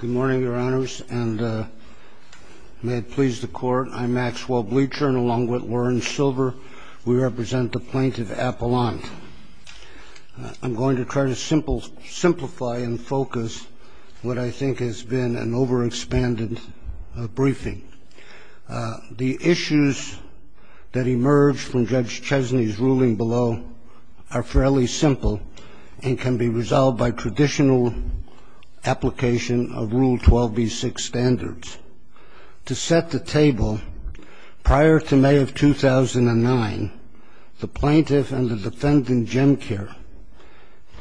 Good morning, Your Honors, and may it please the Court, I'm Maxwell Bleacher, and along with Lauren Silver, we represent the plaintiff, Apollon. I'm going to try to simplify and focus what I think has been an overexpanded briefing. The issues that emerged from Judge Chesney's ruling below are fairly simple and can be resolved by traditional application of Rule 12b-6 standards. To set the table, prior to May of 2009, the plaintiff and the defendant, Jim Care,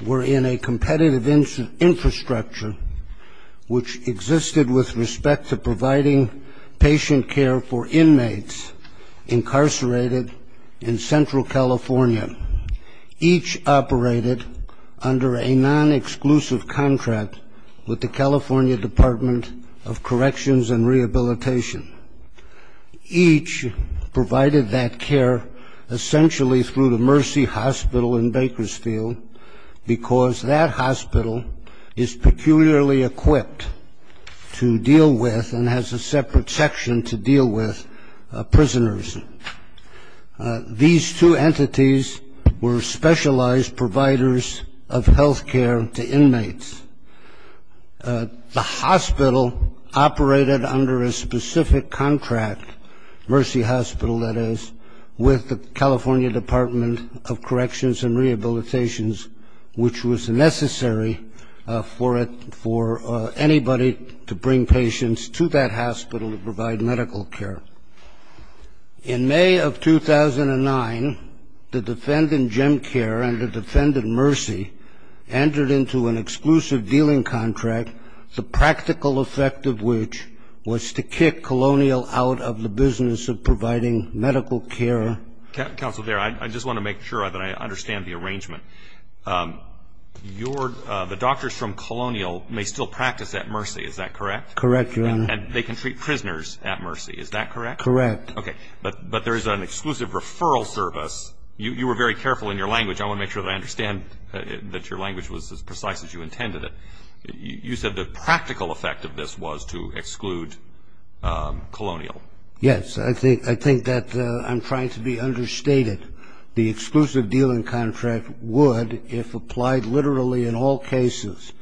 were in a competitive infrastructure which existed with respect to providing patient care for inmates incarcerated in Central California. Each operated under a non-exclusive contract with the California Department of Corrections and Rehabilitation. Each provided that care essentially through the Mercy Hospital in Bakersfield, because that hospital is peculiarly equipped to deal with and has a separate section to deal with prisoners. These two entities were specialized providers of health care to inmates. The hospital operated under a specific contract, Mercy Hospital, that is, with the California Department of Corrections and Rehabilitation, which was necessary for anybody to bring patients to that hospital to provide medical care. In May of 2009, the defendant, Jim Care, and the defendant, Mercy, entered into an exclusive dealing contract, the practical effect of which was to kick Colonial out of the business of providing medical care. Counsel, I just want to make sure that I understand the arrangement. The doctors from Colonial may still practice at Mercy, is that correct? Correct, Your Honor. And they can treat prisoners at Mercy, is that correct? Correct. Okay. But there is an exclusive referral service. You were very careful in your language. I want to make sure that I understand that your language was as precise as you intended it. You said the practical effect of this was to exclude Colonial. Yes. I think that I'm trying to be understated. The exclusive dealing contract would, if applied literally in all cases,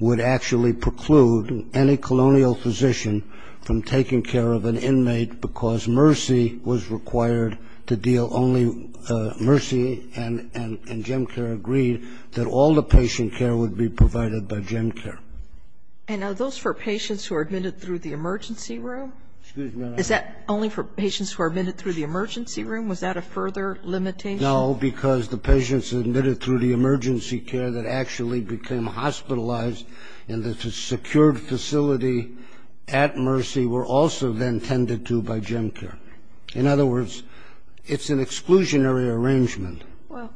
would actually preclude any Colonial physician from taking care of an inmate because Mercy was required to deal only Mercy and Jim Care agreed that all the patient care would be provided by Jim Care. And are those for patients who are admitted through the emergency room? Excuse me, Your Honor. Is that only for patients who are admitted through the emergency room? Was that a further limitation? No, because the patients admitted through the emergency care that actually became hospitalized in the secured facility at Mercy were also then tended to by Jim Care. In other words, it's an exclusionary arrangement. Well,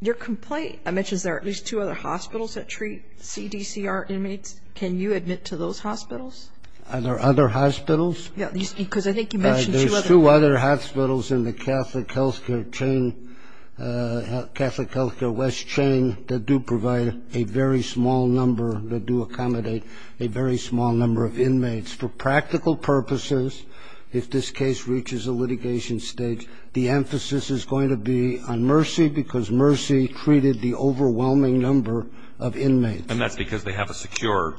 your complaint mentions there are at least two other hospitals that treat CDCR inmates. Can you admit to those hospitals? Are there other hospitals? Yes, because I think you mentioned two other hospitals. There's two other hospitals in the Catholic health care chain, Catholic health care west chain, that do provide a very small number, that do accommodate a very small number of inmates. For practical purposes, if this case reaches a litigation stage, the emphasis is going to be on Mercy because Mercy treated the overwhelming number of inmates. And that's because they have a secure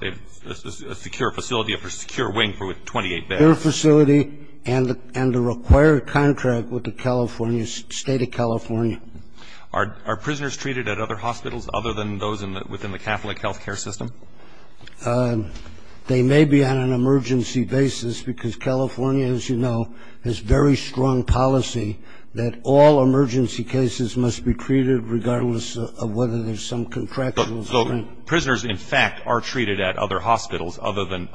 facility, a secure wing with 28 beds. Their facility and the required contract with the state of California. Are prisoners treated at other hospitals other than those within the Catholic health care system? They may be on an emergency basis because California, as you know, has very strong policy that all emergency cases must be treated regardless of whether there's some contractual constraint. So prisoners, in fact, are treated at other hospitals other than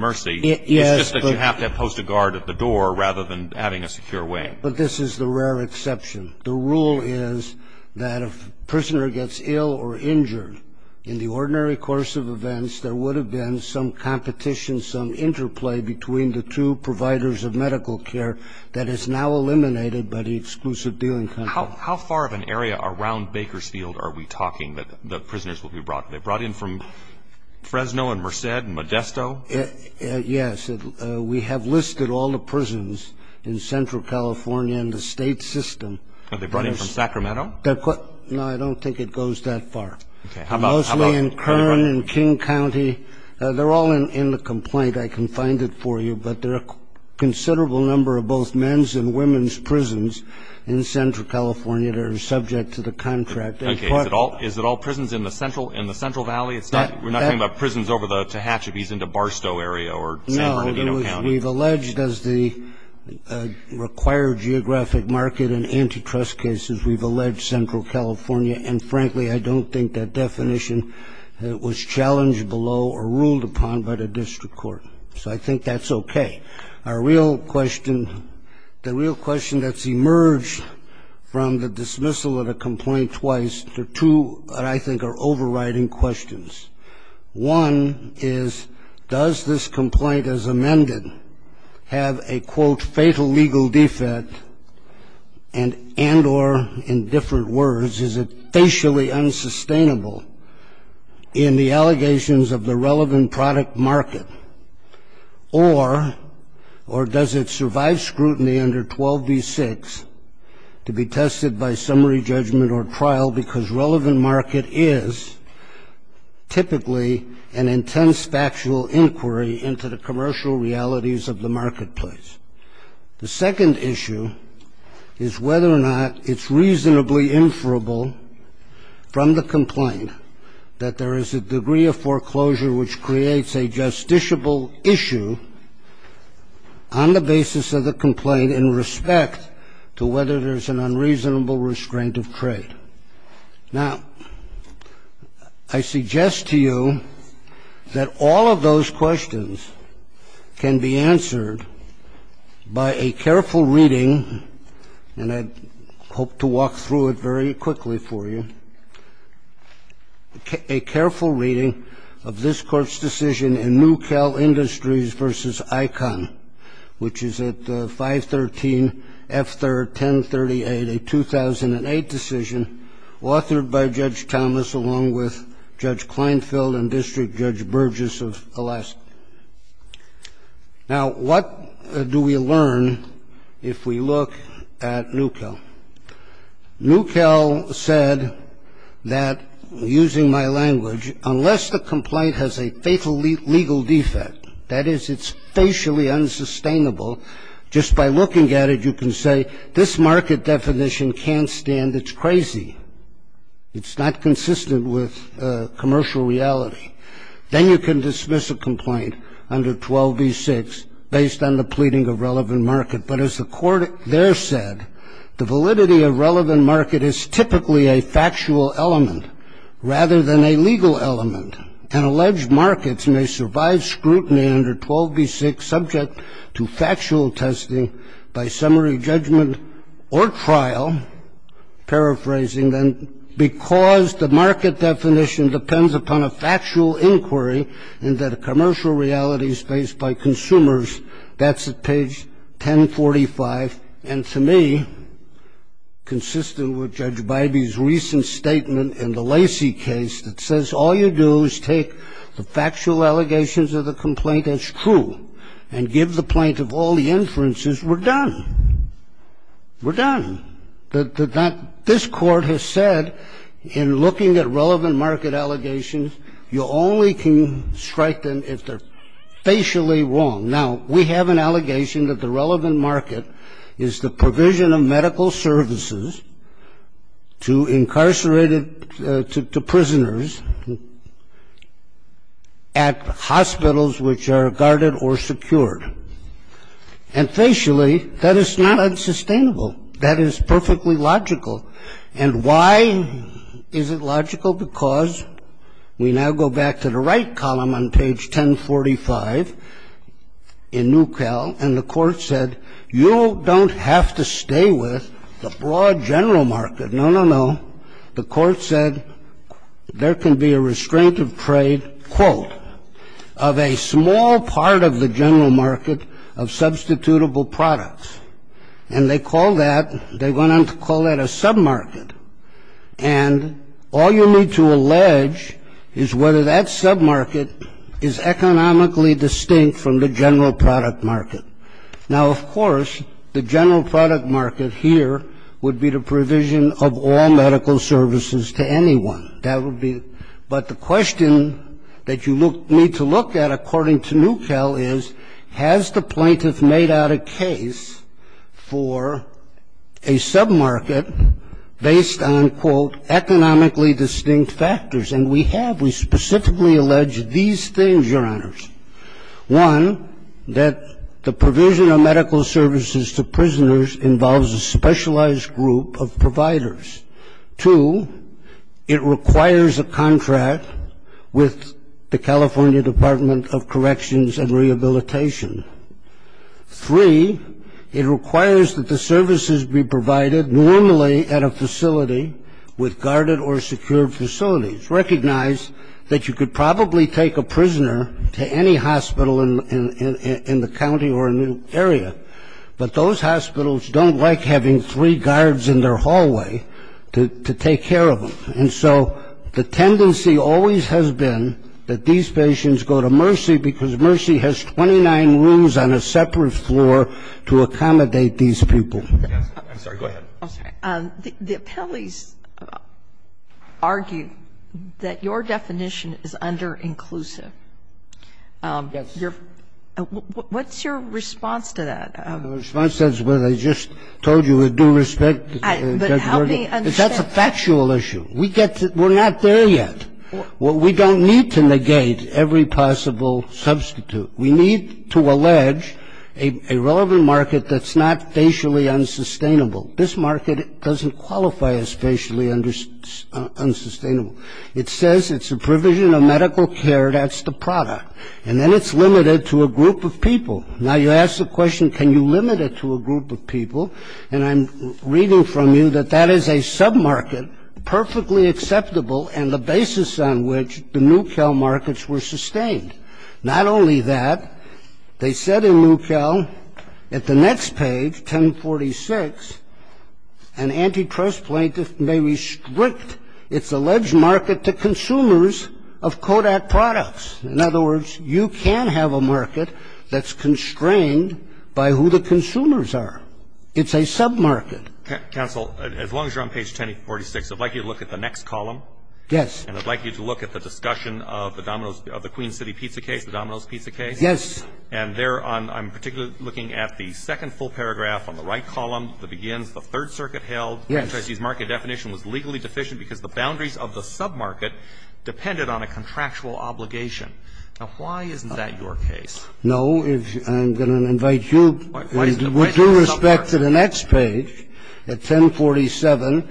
Mercy. It's just that you have to have posted guard at the door rather than having a secure wing. But this is the rare exception. The rule is that if a prisoner gets ill or injured in the ordinary course of events, there would have been some competition, some interplay between the two providers of medical care that is now eliminated by the exclusive dealing contract. How far of an area around Bakersfield are we talking that prisoners will be brought? Are they brought in from Fresno and Merced and Modesto? Yes. We have listed all the prisons in Central California in the state system. Are they brought in from Sacramento? No, I don't think it goes that far. Mostly in Kern and King County. They're all in the complaint. I can find it for you. But there are a considerable number of both men's and women's prisons in Central California that are subject to the contract. Okay. Is it all prisons in the Central Valley? We're not talking about prisons over the Tehachapi's into Barstow area or San Bernardino County. No, we've alleged, as the required geographic market and antitrust cases, we've alleged Central California. And, frankly, I don't think that definition was challenged below or ruled upon by the district court. So I think that's okay. Our real question, the real question that's emerged from the dismissal of a complaint twice, there are two that I think are overriding questions. One is, does this complaint as amended have a, quote, fatal legal defect and or, in different words, is it facially unsustainable in the allegations of the relevant product market? Or does it survive scrutiny under 12v6 to be tested by summary judgment or trial, because relevant market is typically an intense factual inquiry into the commercial realities of the marketplace? The second issue is whether or not it's reasonably inferable from the complaint that there is a degree of foreclosure which creates a justiciable issue on the basis of the complaint in respect to whether there's an unreasonable restraint of trade. Now, I suggest to you that all of those questions can be answered by a careful reading, and I hope to walk through it very quickly for you, a careful reading of this Court's decision in New Cal Industries v. ICON, which is at 513F1038, a 2008 decision authored by Judge Thomas along with Judge Kleinfeld and District Judge Burgess of Alaska. Now, what do we learn if we look at New Cal? New Cal said that, using my language, unless the complaint has a fatal legal defect, that is, it's facially unsustainable, just by looking at it, you can say, this market definition can't stand, it's crazy, it's not consistent with commercial reality. Then you can dismiss a complaint under 12v6 based on the pleading of relevant market. But as the Court there said, the validity of relevant market is typically a factual element rather than a legal element, and alleged markets may survive scrutiny under 12v6 subject to factual testing by summary judgment or trial. Paraphrasing then, because the market definition depends upon a factual inquiry and that a commercial reality is faced by consumers, that's at page 1045. And to me, consistent with Judge Bybee's recent statement in the Lacey case that says, all you do is take the factual allegations of the complaint as true and give the plaintiff all the inferences, we're done. We're done. This Court has said, in looking at relevant market allegations, you only can strike them if they're facially wrong. Now, we have an allegation that the relevant market is the provision of medical services to incarcerated prisoners at hospitals which are guarded or secured. And facially, that is not unsustainable. That is perfectly logical. And why is it logical? Because we now go back to the right column on page 1045 in NUCAL, and the Court said, you don't have to stay with the broad general market. No, no, no. The Court said, there can be a restraint of trade, quote, of a small part of the general market of substitutable products. And they call that, they went on to call that a sub-market. And all you need to allege is whether that sub-market is economically distinct from the general product market. Now, of course, the general product market here would be the provision of all medical services to anyone. That would be, but the question that you need to look at, according to NUCAL, is has the plaintiff made out a case for a sub-market based on, quote, economically distinct factors? And we have. We specifically allege these things, Your Honors. One, that the provision of medical services to prisoners involves a specialized group of providers. Two, it requires a contract with the California Department of Corrections and Rehabilitation. Three, it requires that the services be provided normally at a facility with guarded or secured facilities. Recognize that you could probably take a prisoner to any hospital in the county or in the area, but those hospitals don't like having three guards in their hallway to take care of them. And so the tendency always has been that these patients go to Mercy because Mercy has 29 rooms on a separate floor to accommodate these people. I'm sorry, go ahead. I'm sorry. The appellees argue that your definition is underinclusive. Yes. What's your response to that? The response to that is what I just told you with due respect. But help me understand. That's a factual issue. We're not there yet. We don't need to negate every possible substitute. We need to allege a relevant market that's not facially unsustainable. This market doesn't qualify as facially unsustainable. It says it's a provision of medical care. That's the product. And then it's limited to a group of people. Now, you ask the question, can you limit it to a group of people? And I'm reading from you that that is a submarket perfectly acceptable and the basis on which the New Cal markets were sustained. Not only that, they said in New Cal at the next page, 1046, an antitrust plaintiff may restrict its alleged market to consumers of Kodak products. In other words, you can have a market that's constrained by who the consumers are. It's a submarket. Counsel, as long as you're on page 1046, I'd like you to look at the next column. Yes. And I'd like you to look at the discussion of the dominoes of the Queen City pizza case, the dominoes pizza case. Yes. And there I'm particularly looking at the second full paragraph on the right column, the begins, the Third Circuit held. Yes. No, I'm going to invite you with due respect to the next page, at 1047,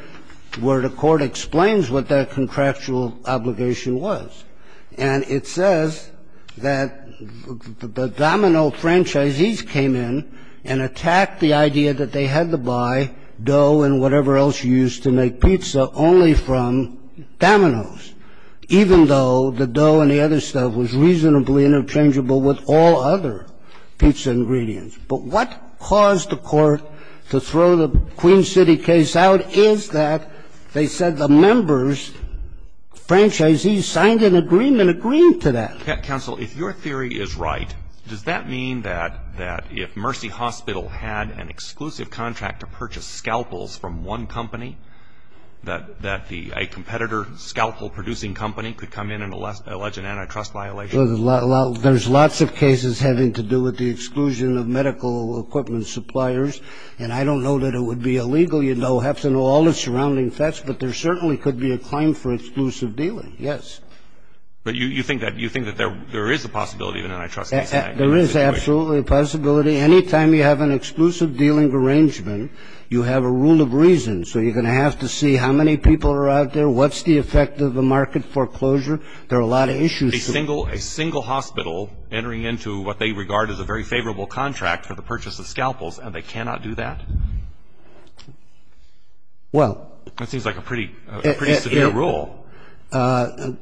where the Court explains what that contractual obligation was. And it says that the domino franchisees came in and attacked the idea that they had to use to make pizza only from dominoes, even though the dough and the other stuff was reasonably interchangeable with all other pizza ingredients. But what caused the Court to throw the Queen City case out is that they said the members, franchisees, signed an agreement agreeing to that. Counsel, if your theory is right, does that mean that if Mercy Hospital had an exclusive contract to purchase scalpels from one company, that a competitor scalpel-producing company could come in and allege an antitrust violation? Well, there's lots of cases having to do with the exclusion of medical equipment suppliers. And I don't know that it would be illegal. You'd have to know all the surrounding facts. But there certainly could be a claim for exclusive dealing, yes. But you think that there is a possibility of an antitrust violation? There is absolutely a possibility. Anytime you have an exclusive dealing arrangement, you have a rule of reason. So you're going to have to see how many people are out there, what's the effect of the market foreclosure. There are a lot of issues. A single hospital entering into what they regard as a very favorable contract for the purchase of scalpels, and they cannot do that? Well. That seems like a pretty severe rule.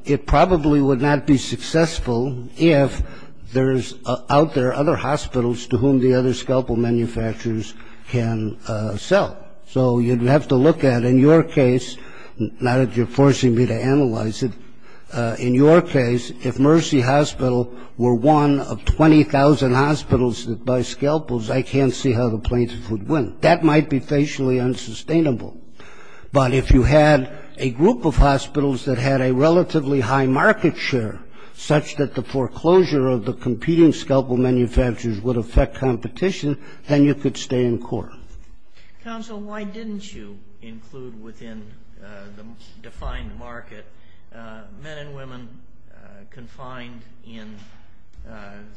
It probably would not be successful if there's out there other hospitals to whom the other scalpel manufacturers can sell. So you'd have to look at, in your case, not that you're forcing me to analyze it, in your case, if Mercy Hospital were one of 20,000 hospitals that buy scalpels, I can't see how the plaintiffs would win. That might be facially unsustainable. But if you had a group of hospitals that had a relatively high market share, such that the foreclosure of the competing scalpel manufacturers would affect competition, then you could stay in court. Counsel, why didn't you include within the defined market men and women confined in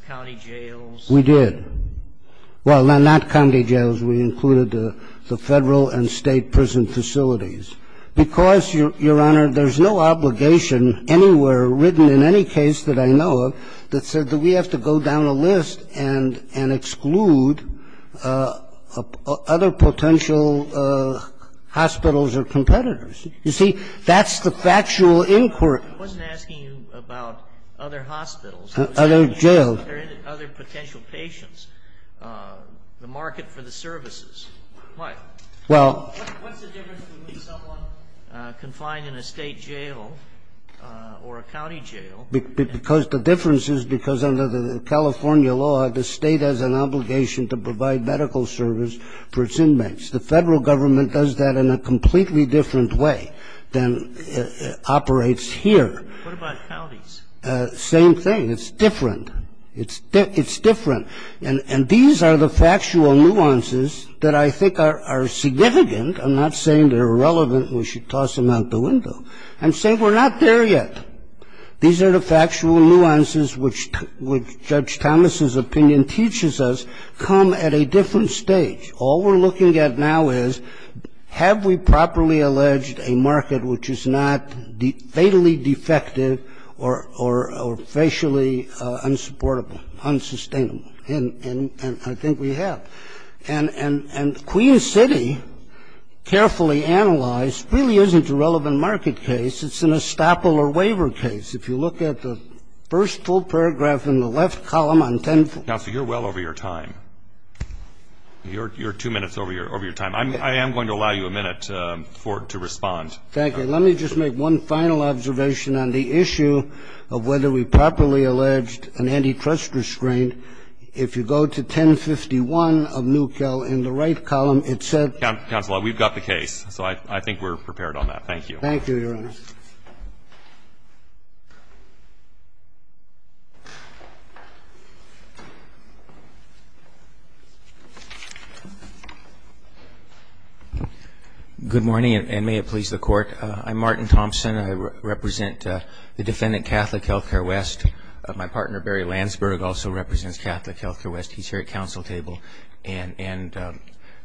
county jails? We did. Well, not county jails. We included the federal and state prison facilities. Because, Your Honor, there's no obligation anywhere written in any case that I know of that said that we have to go down a list and exclude other potential hospitals or competitors. You see, that's the factual inquiry. I wasn't asking you about other hospitals. Other jails. Other potential patients. The market for the services. What's the difference between someone confined in a state jail or a county jail? Because the difference is because under the California law, the state has an obligation to provide medical service for its inmates. The federal government does that in a completely different way than operates here. What about counties? Same thing. It's different. It's different. And these are the factual nuances that I think are significant. I'm not saying they're irrelevant and we should toss them out the window. I'm saying we're not there yet. These are the factual nuances which Judge Thomas's opinion teaches us come at a different stage. All we're looking at now is have we properly alleged a market which is not fatally defective or facially unsupportable, unsustainable? And I think we have. And Queen City, carefully analyzed, really isn't a relevant market case. It's an estoppel or waiver case. If you look at the first full paragraph in the left column on 10-4. You're well over your time. You're two minutes over your time. I am going to allow you a minute to respond. Thank you. Let me just make one final observation on the issue of whether we properly alleged an antitrust restraint. If you go to 10-51 of NUCL in the right column, it said. Counsel, we've got the case. So I think we're prepared on that. Thank you. Thank you, Your Honor. Good morning, and may it please the Court. I'm Martin Thompson. I represent the defendant, Catholic Healthcare West. My partner, Barry Landsberg, also represents Catholic Healthcare West. He's here at counsel table. And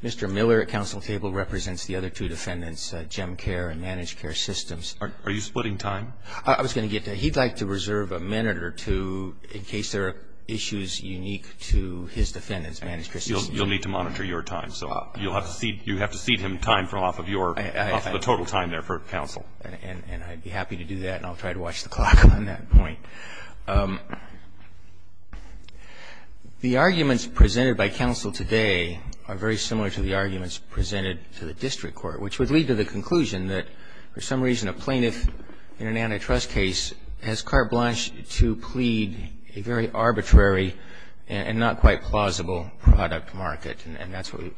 Mr. Miller at counsel table represents the other two defendants, GEM Care and Managed Care Systems. Are you splitting time? I was going to get to it. He'd like to reserve a minute or two in case there are issues unique to his defendants, Managed Care Systems. You'll need to monitor your time. So you'll have to cede him time from off of your, off of the total time there for counsel. And I'd be happy to do that, and I'll try to watch the clock on that point. The arguments presented by counsel today are very similar to the arguments presented to the district court, which would lead to the conclusion that for some reason a plaintiff in an antitrust case has carte blanche to plead a very arbitrary and not quite plausible product market, and that's what we,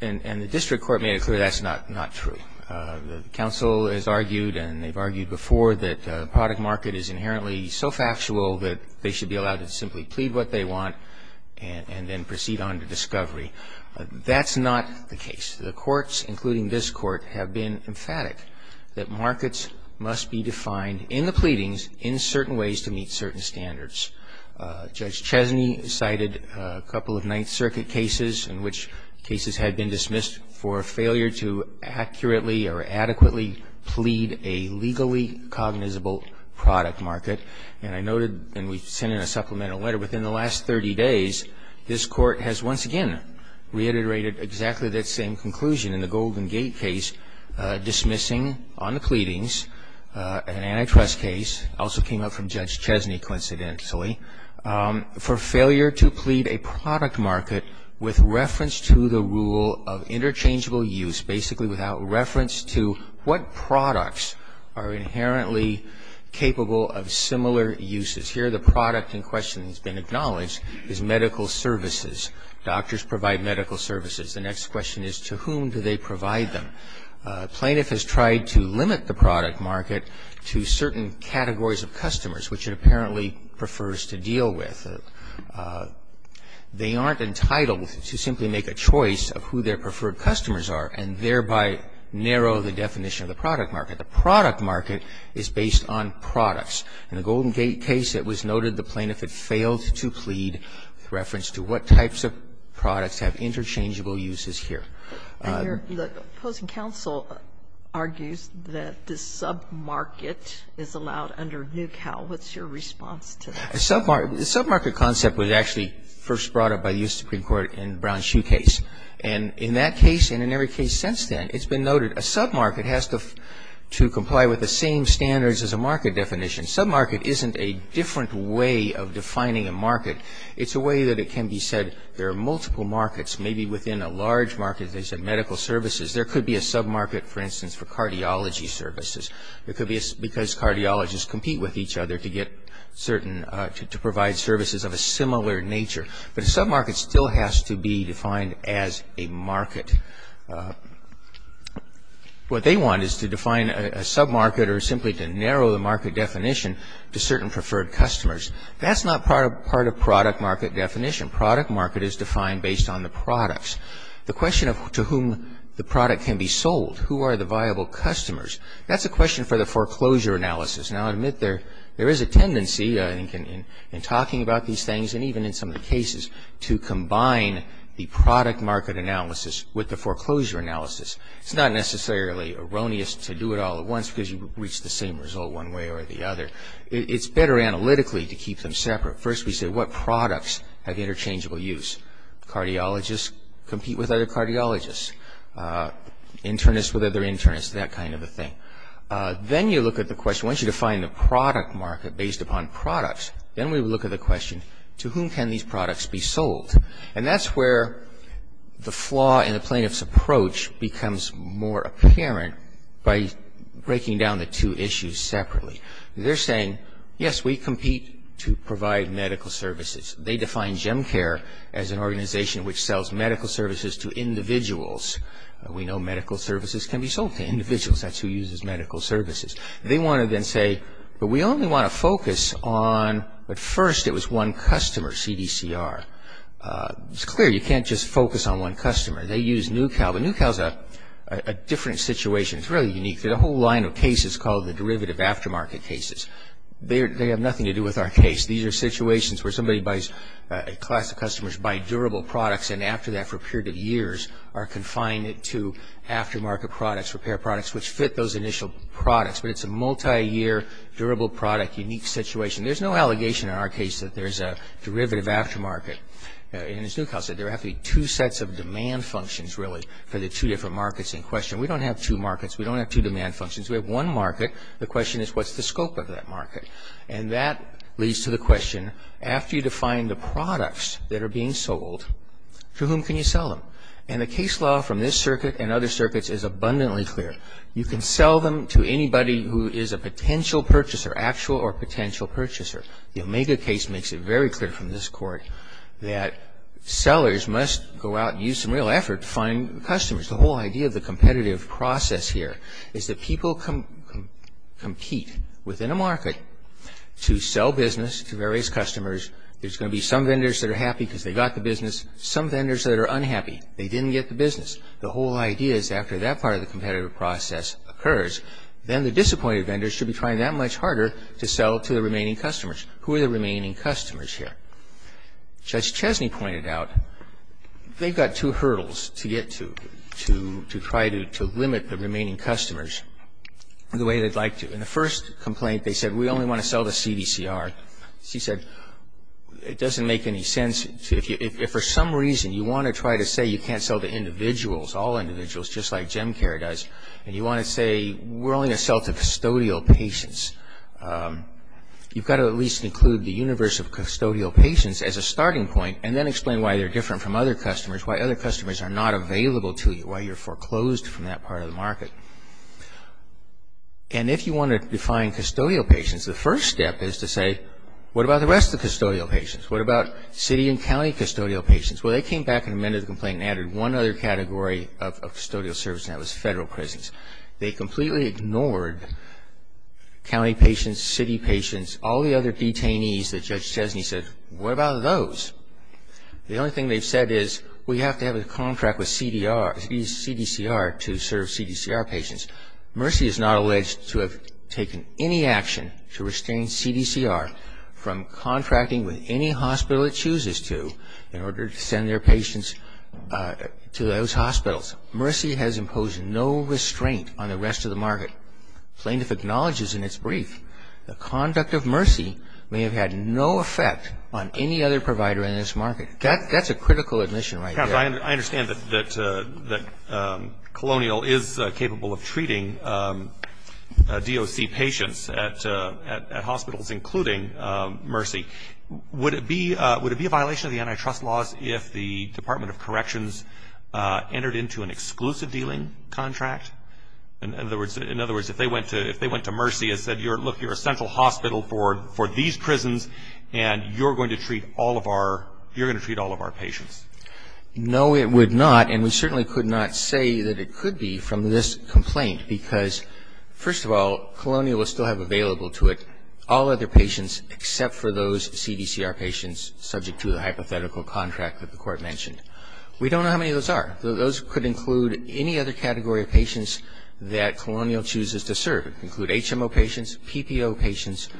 and the district court made it clear that's not true. The counsel has argued and they've argued before that the product market is inherently so factual that they should be allowed to simply plead what they want and then proceed on to discovery. That's not the case. The courts, including this court, have been emphatic that markets must be defined in the pleadings in certain ways to meet certain standards. Judge Chesney cited a couple of Ninth Circuit cases in which cases had been dismissed for failure to accurately or adequately plead a legally cognizable product market. And I noted, and we sent in a supplemental letter, within the last 30 days, this court has once again reiterated exactly that same conclusion in the Golden Gate case dismissing on the pleadings, an antitrust case, also came up from Judge Chesney coincidentally, for failure to plead a product market with reference to the rule of interchangeable use, basically without reference to what products are inherently capable of similar uses. Here the product in question that's been acknowledged is medical services. Doctors provide medical services. The next question is to whom do they provide them? Plaintiff has tried to limit the product market to certain categories of customers, which it apparently prefers to deal with. They aren't entitled to simply make a choice of who their preferred customers are and thereby narrow the definition of the product market. The product market is based on products. In the Golden Gate case, it was noted the plaintiff had failed to plead with reference to what types of products have interchangeable uses here. Sotomayor, the opposing counsel argues that the sub-market is allowed under Newcal. What's your response to that? The sub-market concept was actually first brought up by the U.S. Supreme Court in Brown's shoe case. And in that case and in every case since then, it's been noted a sub-market has to comply with the same standards as a market definition. Sub-market isn't a different way of defining a market. It's a way that it can be said there are multiple markets, maybe within a large market. They said medical services. There could be a sub-market, for instance, for cardiology services. It could be because cardiologists compete with each other to get certain, to provide services of a similar nature. What they want is to define a sub-market or simply to narrow the market definition to certain preferred customers. That's not part of product market definition. Product market is defined based on the products. The question of to whom the product can be sold, who are the viable customers, that's a question for the foreclosure analysis. Now, I admit there is a tendency, I think, in talking about these things and even in some of the cases to combine the product market analysis with the foreclosure analysis. It's not necessarily erroneous to do it all at once because you reach the same result one way or the other. It's better analytically to keep them separate. First, we say what products have interchangeable use. Cardiologists compete with other cardiologists. Internists with other internists, that kind of a thing. Then you look at the question, once you define the product market based upon products, then we look at the question, to whom can these products be sold? And that's where the flaw in the plaintiff's approach becomes more apparent by breaking down the two issues separately. They're saying, yes, we compete to provide medical services. They define GEMCARE as an organization which sells medical services to individuals. We know medical services can be sold to individuals. That's who uses medical services. They want to then say, but we only want to focus on, but first it was one customer, CDCR. It's clear you can't just focus on one customer. They use NuCal, but NuCal is a different situation. It's really unique. There's a whole line of cases called the derivative aftermarket cases. They have nothing to do with our case. These are situations where somebody buys, a class of customers buy durable products and after that for a period of years are confined to aftermarket products, repair products, which fit those initial products, but it's a multiyear, durable product, unique situation. There's no allegation in our case that there's a derivative aftermarket. As NuCal said, there have to be two sets of demand functions, really, for the two different markets in question. We don't have two markets. We don't have two demand functions. We have one market. The question is, what's the scope of that market? And that leads to the question, after you define the products that are being sold, to whom can you sell them? And the case law from this circuit and other circuits is abundantly clear. You can sell them to anybody who is a potential purchaser, actual or potential purchaser. The Omega case makes it very clear from this court that sellers must go out and use some real effort to find customers. The whole idea of the competitive process here is that people compete within a market to sell business to various customers. There's going to be some vendors that are happy because they got the business, some vendors that are unhappy. They didn't get the business. The whole idea is after that part of the competitive process occurs, then the disappointed vendors should be trying that much harder to sell to the remaining customers. Who are the remaining customers here? Judge Chesney pointed out they've got two hurdles to get to, to try to limit the remaining customers the way they'd like to. In the first complaint, they said, we only want to sell to CDCR. She said, it doesn't make any sense. If for some reason you want to try to say you can't sell to individuals, all individuals just like GenCare does, and you want to say we're only going to sell to custodial patients, you've got to at least include the universe of custodial patients as a starting point and then explain why they're different from other customers, why other customers are not available to you, why you're foreclosed from that part of the market. And if you want to define custodial patients, the first step is to say, what about the rest of the custodial patients? What about city and county custodial patients? Well, they came back and amended the complaint and added one other category of custodial service, and that was federal prisons. They completely ignored county patients, city patients, all the other detainees that Judge Chesney said, what about those? The only thing they've said is, we have to have a contract with CDCR to serve CDCR patients. Mercy is not alleged to have taken any action to restrain CDCR from contracting with any hospital it chooses to in order to send their patients to those hospitals. Mercy has imposed no restraint on the rest of the market. Plaintiff acknowledges in its brief, the conduct of Mercy may have had no effect on any other provider in this market. That's a critical admission right there. I understand that Colonial is capable of treating DOC patients at hospitals, including Mercy. Would it be a violation of the antitrust laws if the Department of Corrections entered into an exclusive dealing contract? In other words, if they went to Mercy and said, look, you're a central hospital for these prisons, and you're going to treat all of our patients? No, it would not, and we certainly could not say that it could be from this complaint, because first of all, Colonial will still have available to it all other patients except for those CDCR patients subject to the hypothetical contract that the Court mentioned. We don't know how many of those are. Those could include any other category of patients that Colonial chooses to serve. They could include HMO patients, PPO patients,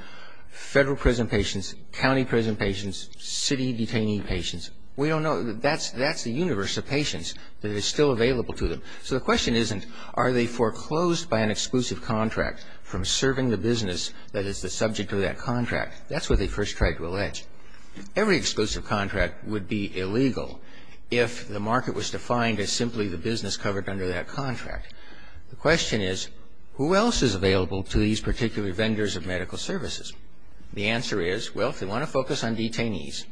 federal prison patients, county prison patients, city detainee patients. We don't know. That's the universe of patients that is still available to them. So the question isn't are they foreclosed by an exclusive contract from serving the business that is the subject of that contract. That's what they first tried to allege. Every exclusive contract would be illegal if the market was defined as simply the business covered under that contract. The question is who else is available to these particular vendors of medical services? The answer is, well, if they want to focus on detainees,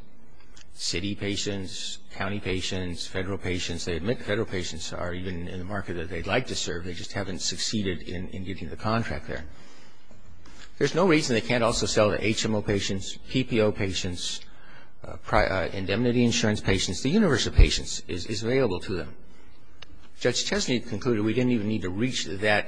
city patients, county patients, federal patients, they admit federal patients are even in the market that they'd like to serve, they just haven't succeeded in getting the contract there. There's no reason they can't also sell to HMO patients, PPO patients, indemnity insurance patients. The universe of patients is available to them. Judge Chesney concluded we didn't even need to reach that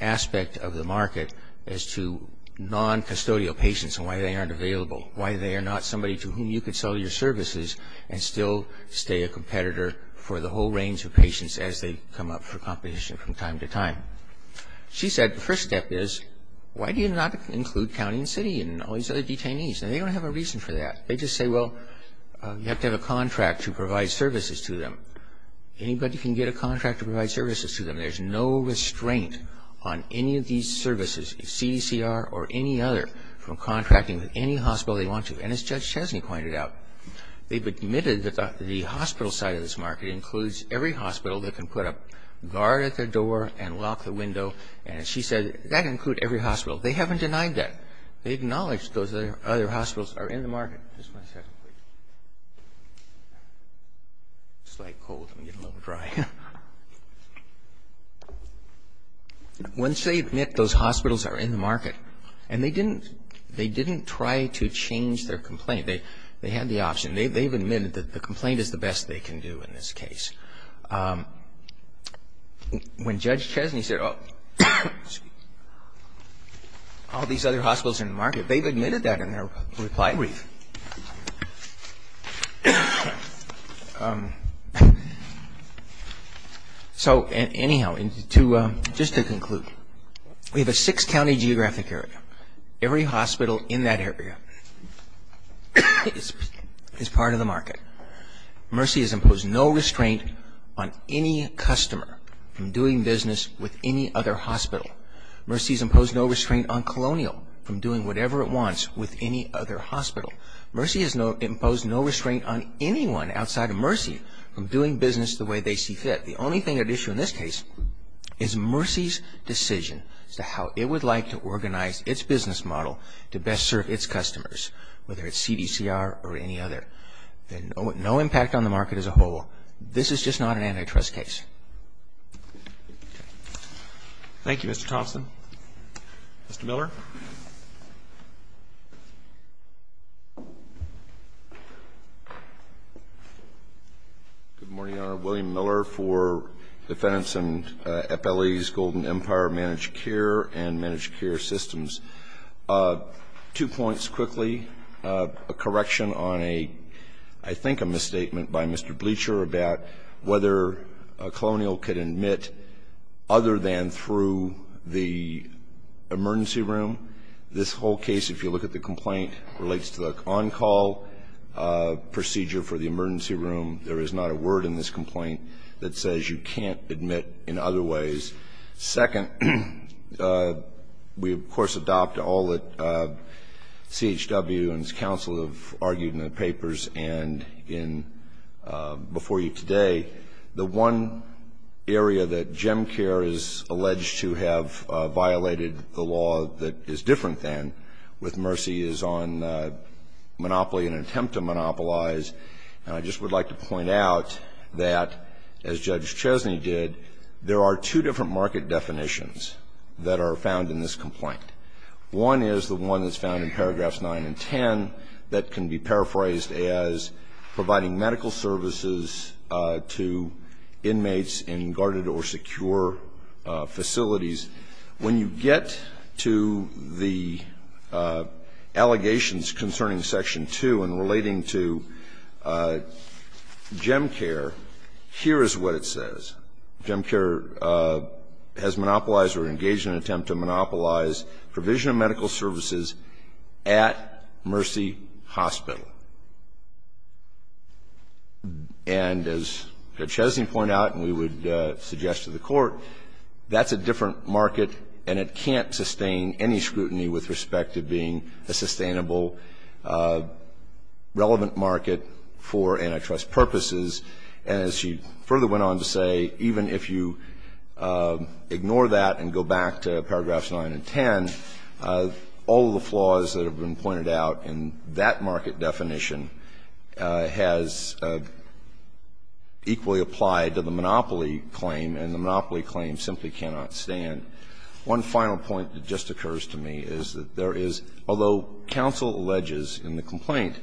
aspect of the market as to noncustodial patients and why they aren't available, why they are not somebody to whom you could sell your services and still stay a competitor for the whole range of patients as they come up for competition from time to time. She said the first step is why do you not include county and city and all these other detainees? And they don't have a reason for that. They just say, well, you have to have a contract to provide services to them. Anybody can get a contract to provide services to them. There's no restraint on any of these services, CDCR or any other, from contracting with any hospital they want to. And as Judge Chesney pointed out, they've admitted that the hospital side of this market includes every hospital that can put a guard at their door and lock the window. And she said that can include every hospital. They haven't denied that. They acknowledge those other hospitals are in the market. Once they admit those hospitals are in the market, and they didn't try to change their complaint. They had the option. They've admitted that the complaint is the best they can do in this case. When Judge Chesney said all these other hospitals in the market, they've admitted that in their reply brief. So anyhow, just to conclude, we have a six-county geographic area. Every hospital in that area is part of the market. Mercy has imposed no restraint on any customer from doing business with any other hospital. Mercy has imposed no restraint on Colonial from doing whatever it wants with any other hospital. Mercy has imposed no restraint on anyone outside of Mercy from doing business the way they see fit. The only thing at issue in this case is Mercy's decision as to how it would like to organize its business model to best serve its customers, whether it's CDCR or any other. No impact on the market as a whole. This is just not an antitrust case. Thank you. Thank you, Mr. Thompson. Mr. Miller. Good morning, Your Honor. William Miller for Defense and FLE's Golden Empire Managed Care and Managed Care Systems. Two points quickly. A correction on a, I think, a misstatement by Mr. Bleacher about whether Colonial could admit other than through the emergency room. This whole case, if you look at the complaint, relates to the on-call procedure for the emergency room. There is not a word in this complaint that says you can't admit in other ways. Second, we, of course, adopt all that CHW and its counsel have argued in the papers and in before you today. The one area that GEMCARE is alleged to have violated the law that is different than with Mercy is on monopoly and attempt to monopolize. And I just would like to point out that, as Judge Chesney did, there are two different market definitions that are found in this complaint. One is the one that's found in paragraphs 9 and 10 that can be paraphrased as providing medical services to inmates in guarded or secure facilities. When you get to the allegations concerning Section 2 and relating to GEMCARE, here is what it says. GEMCARE has monopolized or engaged in an attempt to monopolize provision of medical services at Mercy Hospital. And as Judge Chesney pointed out and we would suggest to the Court, that's a different market and it can't sustain any scrutiny with respect to being a sustainable, relevant market for antitrust purposes. And as she further went on to say, even if you ignore that and go back to paragraphs 9 and 10, all of the flaws that have been pointed out in that market definition has equally applied to the monopoly claim and the monopoly claim simply cannot stand. One final point that just occurs to me is that there is, although counsel alleges in the complaint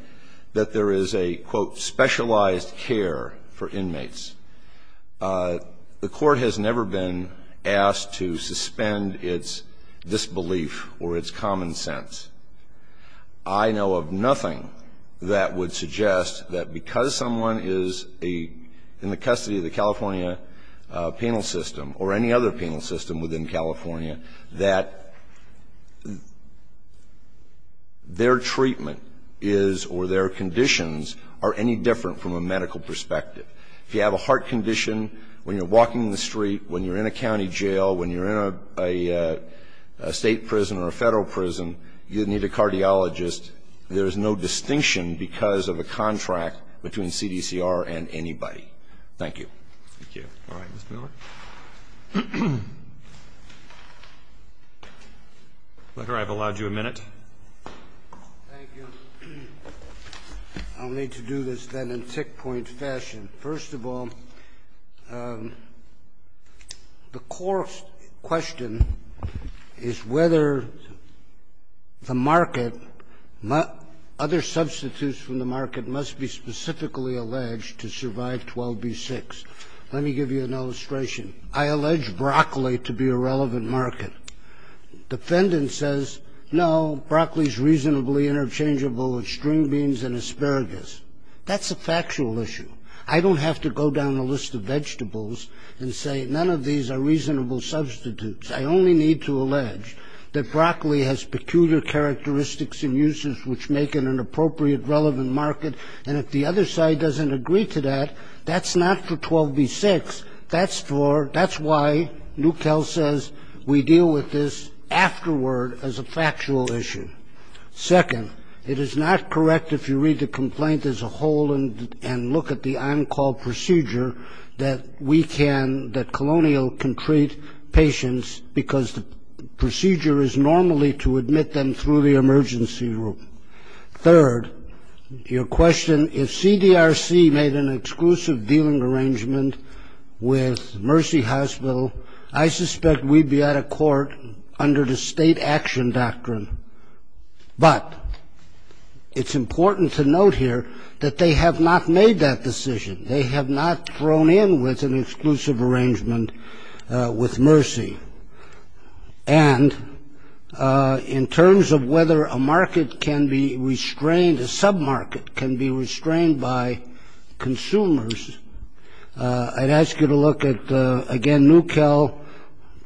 that there is a, quote, specialized care for inmates, the Court has never been asked to suspend its disbelief or its common sense. I know of nothing that would suggest that because someone is a, in the custody of the California penal system or any other penal system within California, that their treatment is or their conditions are any different from a medical perspective. If you have a heart condition when you're walking the street, when you're in a county jail, when you're in a State prison or a Federal prison, you need a cardiologist. There is no distinction because of a contract between CDCR and anybody. Thank you. Roberts. Thank you. All right. Mr. Miller? Mr. Miller, I've allowed you a minute. Thank you. I'll need to do this then in tick-point fashion. First of all, the core question is whether the market, other substitutes from the market, must be specifically alleged to survive 12b-6. Let me give you an illustration. I allege broccoli to be a relevant market. Defendant says, no, broccoli is reasonably interchangeable with string beans and asparagus. That's a factual issue. I don't have to go down the list of vegetables and say none of these are reasonable substitutes. I only need to allege that broccoli has peculiar characteristics and uses which make it an appropriate, relevant market. And if the other side doesn't agree to that, that's not for 12b-6. That's for, that's why Newcall says we deal with this afterward as a factual issue. Second, it is not correct if you read the complaint as a whole and look at the on-call procedure that we can, that Colonial can treat patients because the procedure is normally to admit them through the emergency room. Third, your question, if CDRC made an exclusive dealing arrangement with Mercy Hospital, I suspect we'd be out of court under the state action doctrine. But it's important to note here that they have not made that decision. They have not thrown in with an exclusive arrangement with Mercy. And in terms of whether a market can be restrained, a sub-market can be restrained by consumers, I'd ask you to look at, again, Newcall,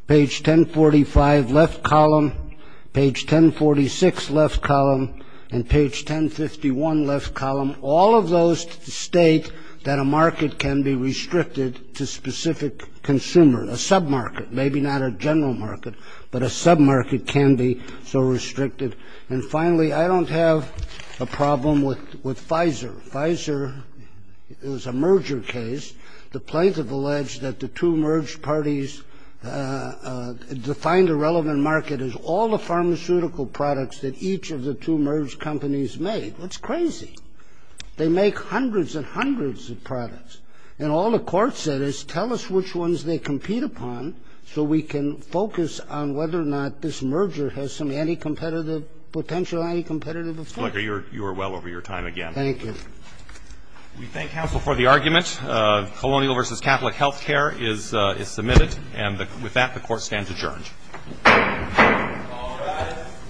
page 1045, left column, page 1046, left column, and page 1051, left column. All of those state that a market can be restricted to specific consumer, a sub-market, maybe not a general market, but a sub-market can be so restricted. And finally, I don't have a problem with Pfizer. Pfizer is a merger case. The plaintiff alleged that the two merged parties defined a relevant market as all the pharmaceutical products that each of the two merged companies made. That's crazy. They make hundreds and hundreds of products. And all the court said is tell us which ones they compete upon so we can focus on whether or not this merger has some anti-competitive, potential anti-competitive effect. Mr. Flicker, you are well over your time again. Thank you. We thank counsel for the argument. Colonial versus Catholic health care is submitted. And with that, the court stands adjourned. All rise.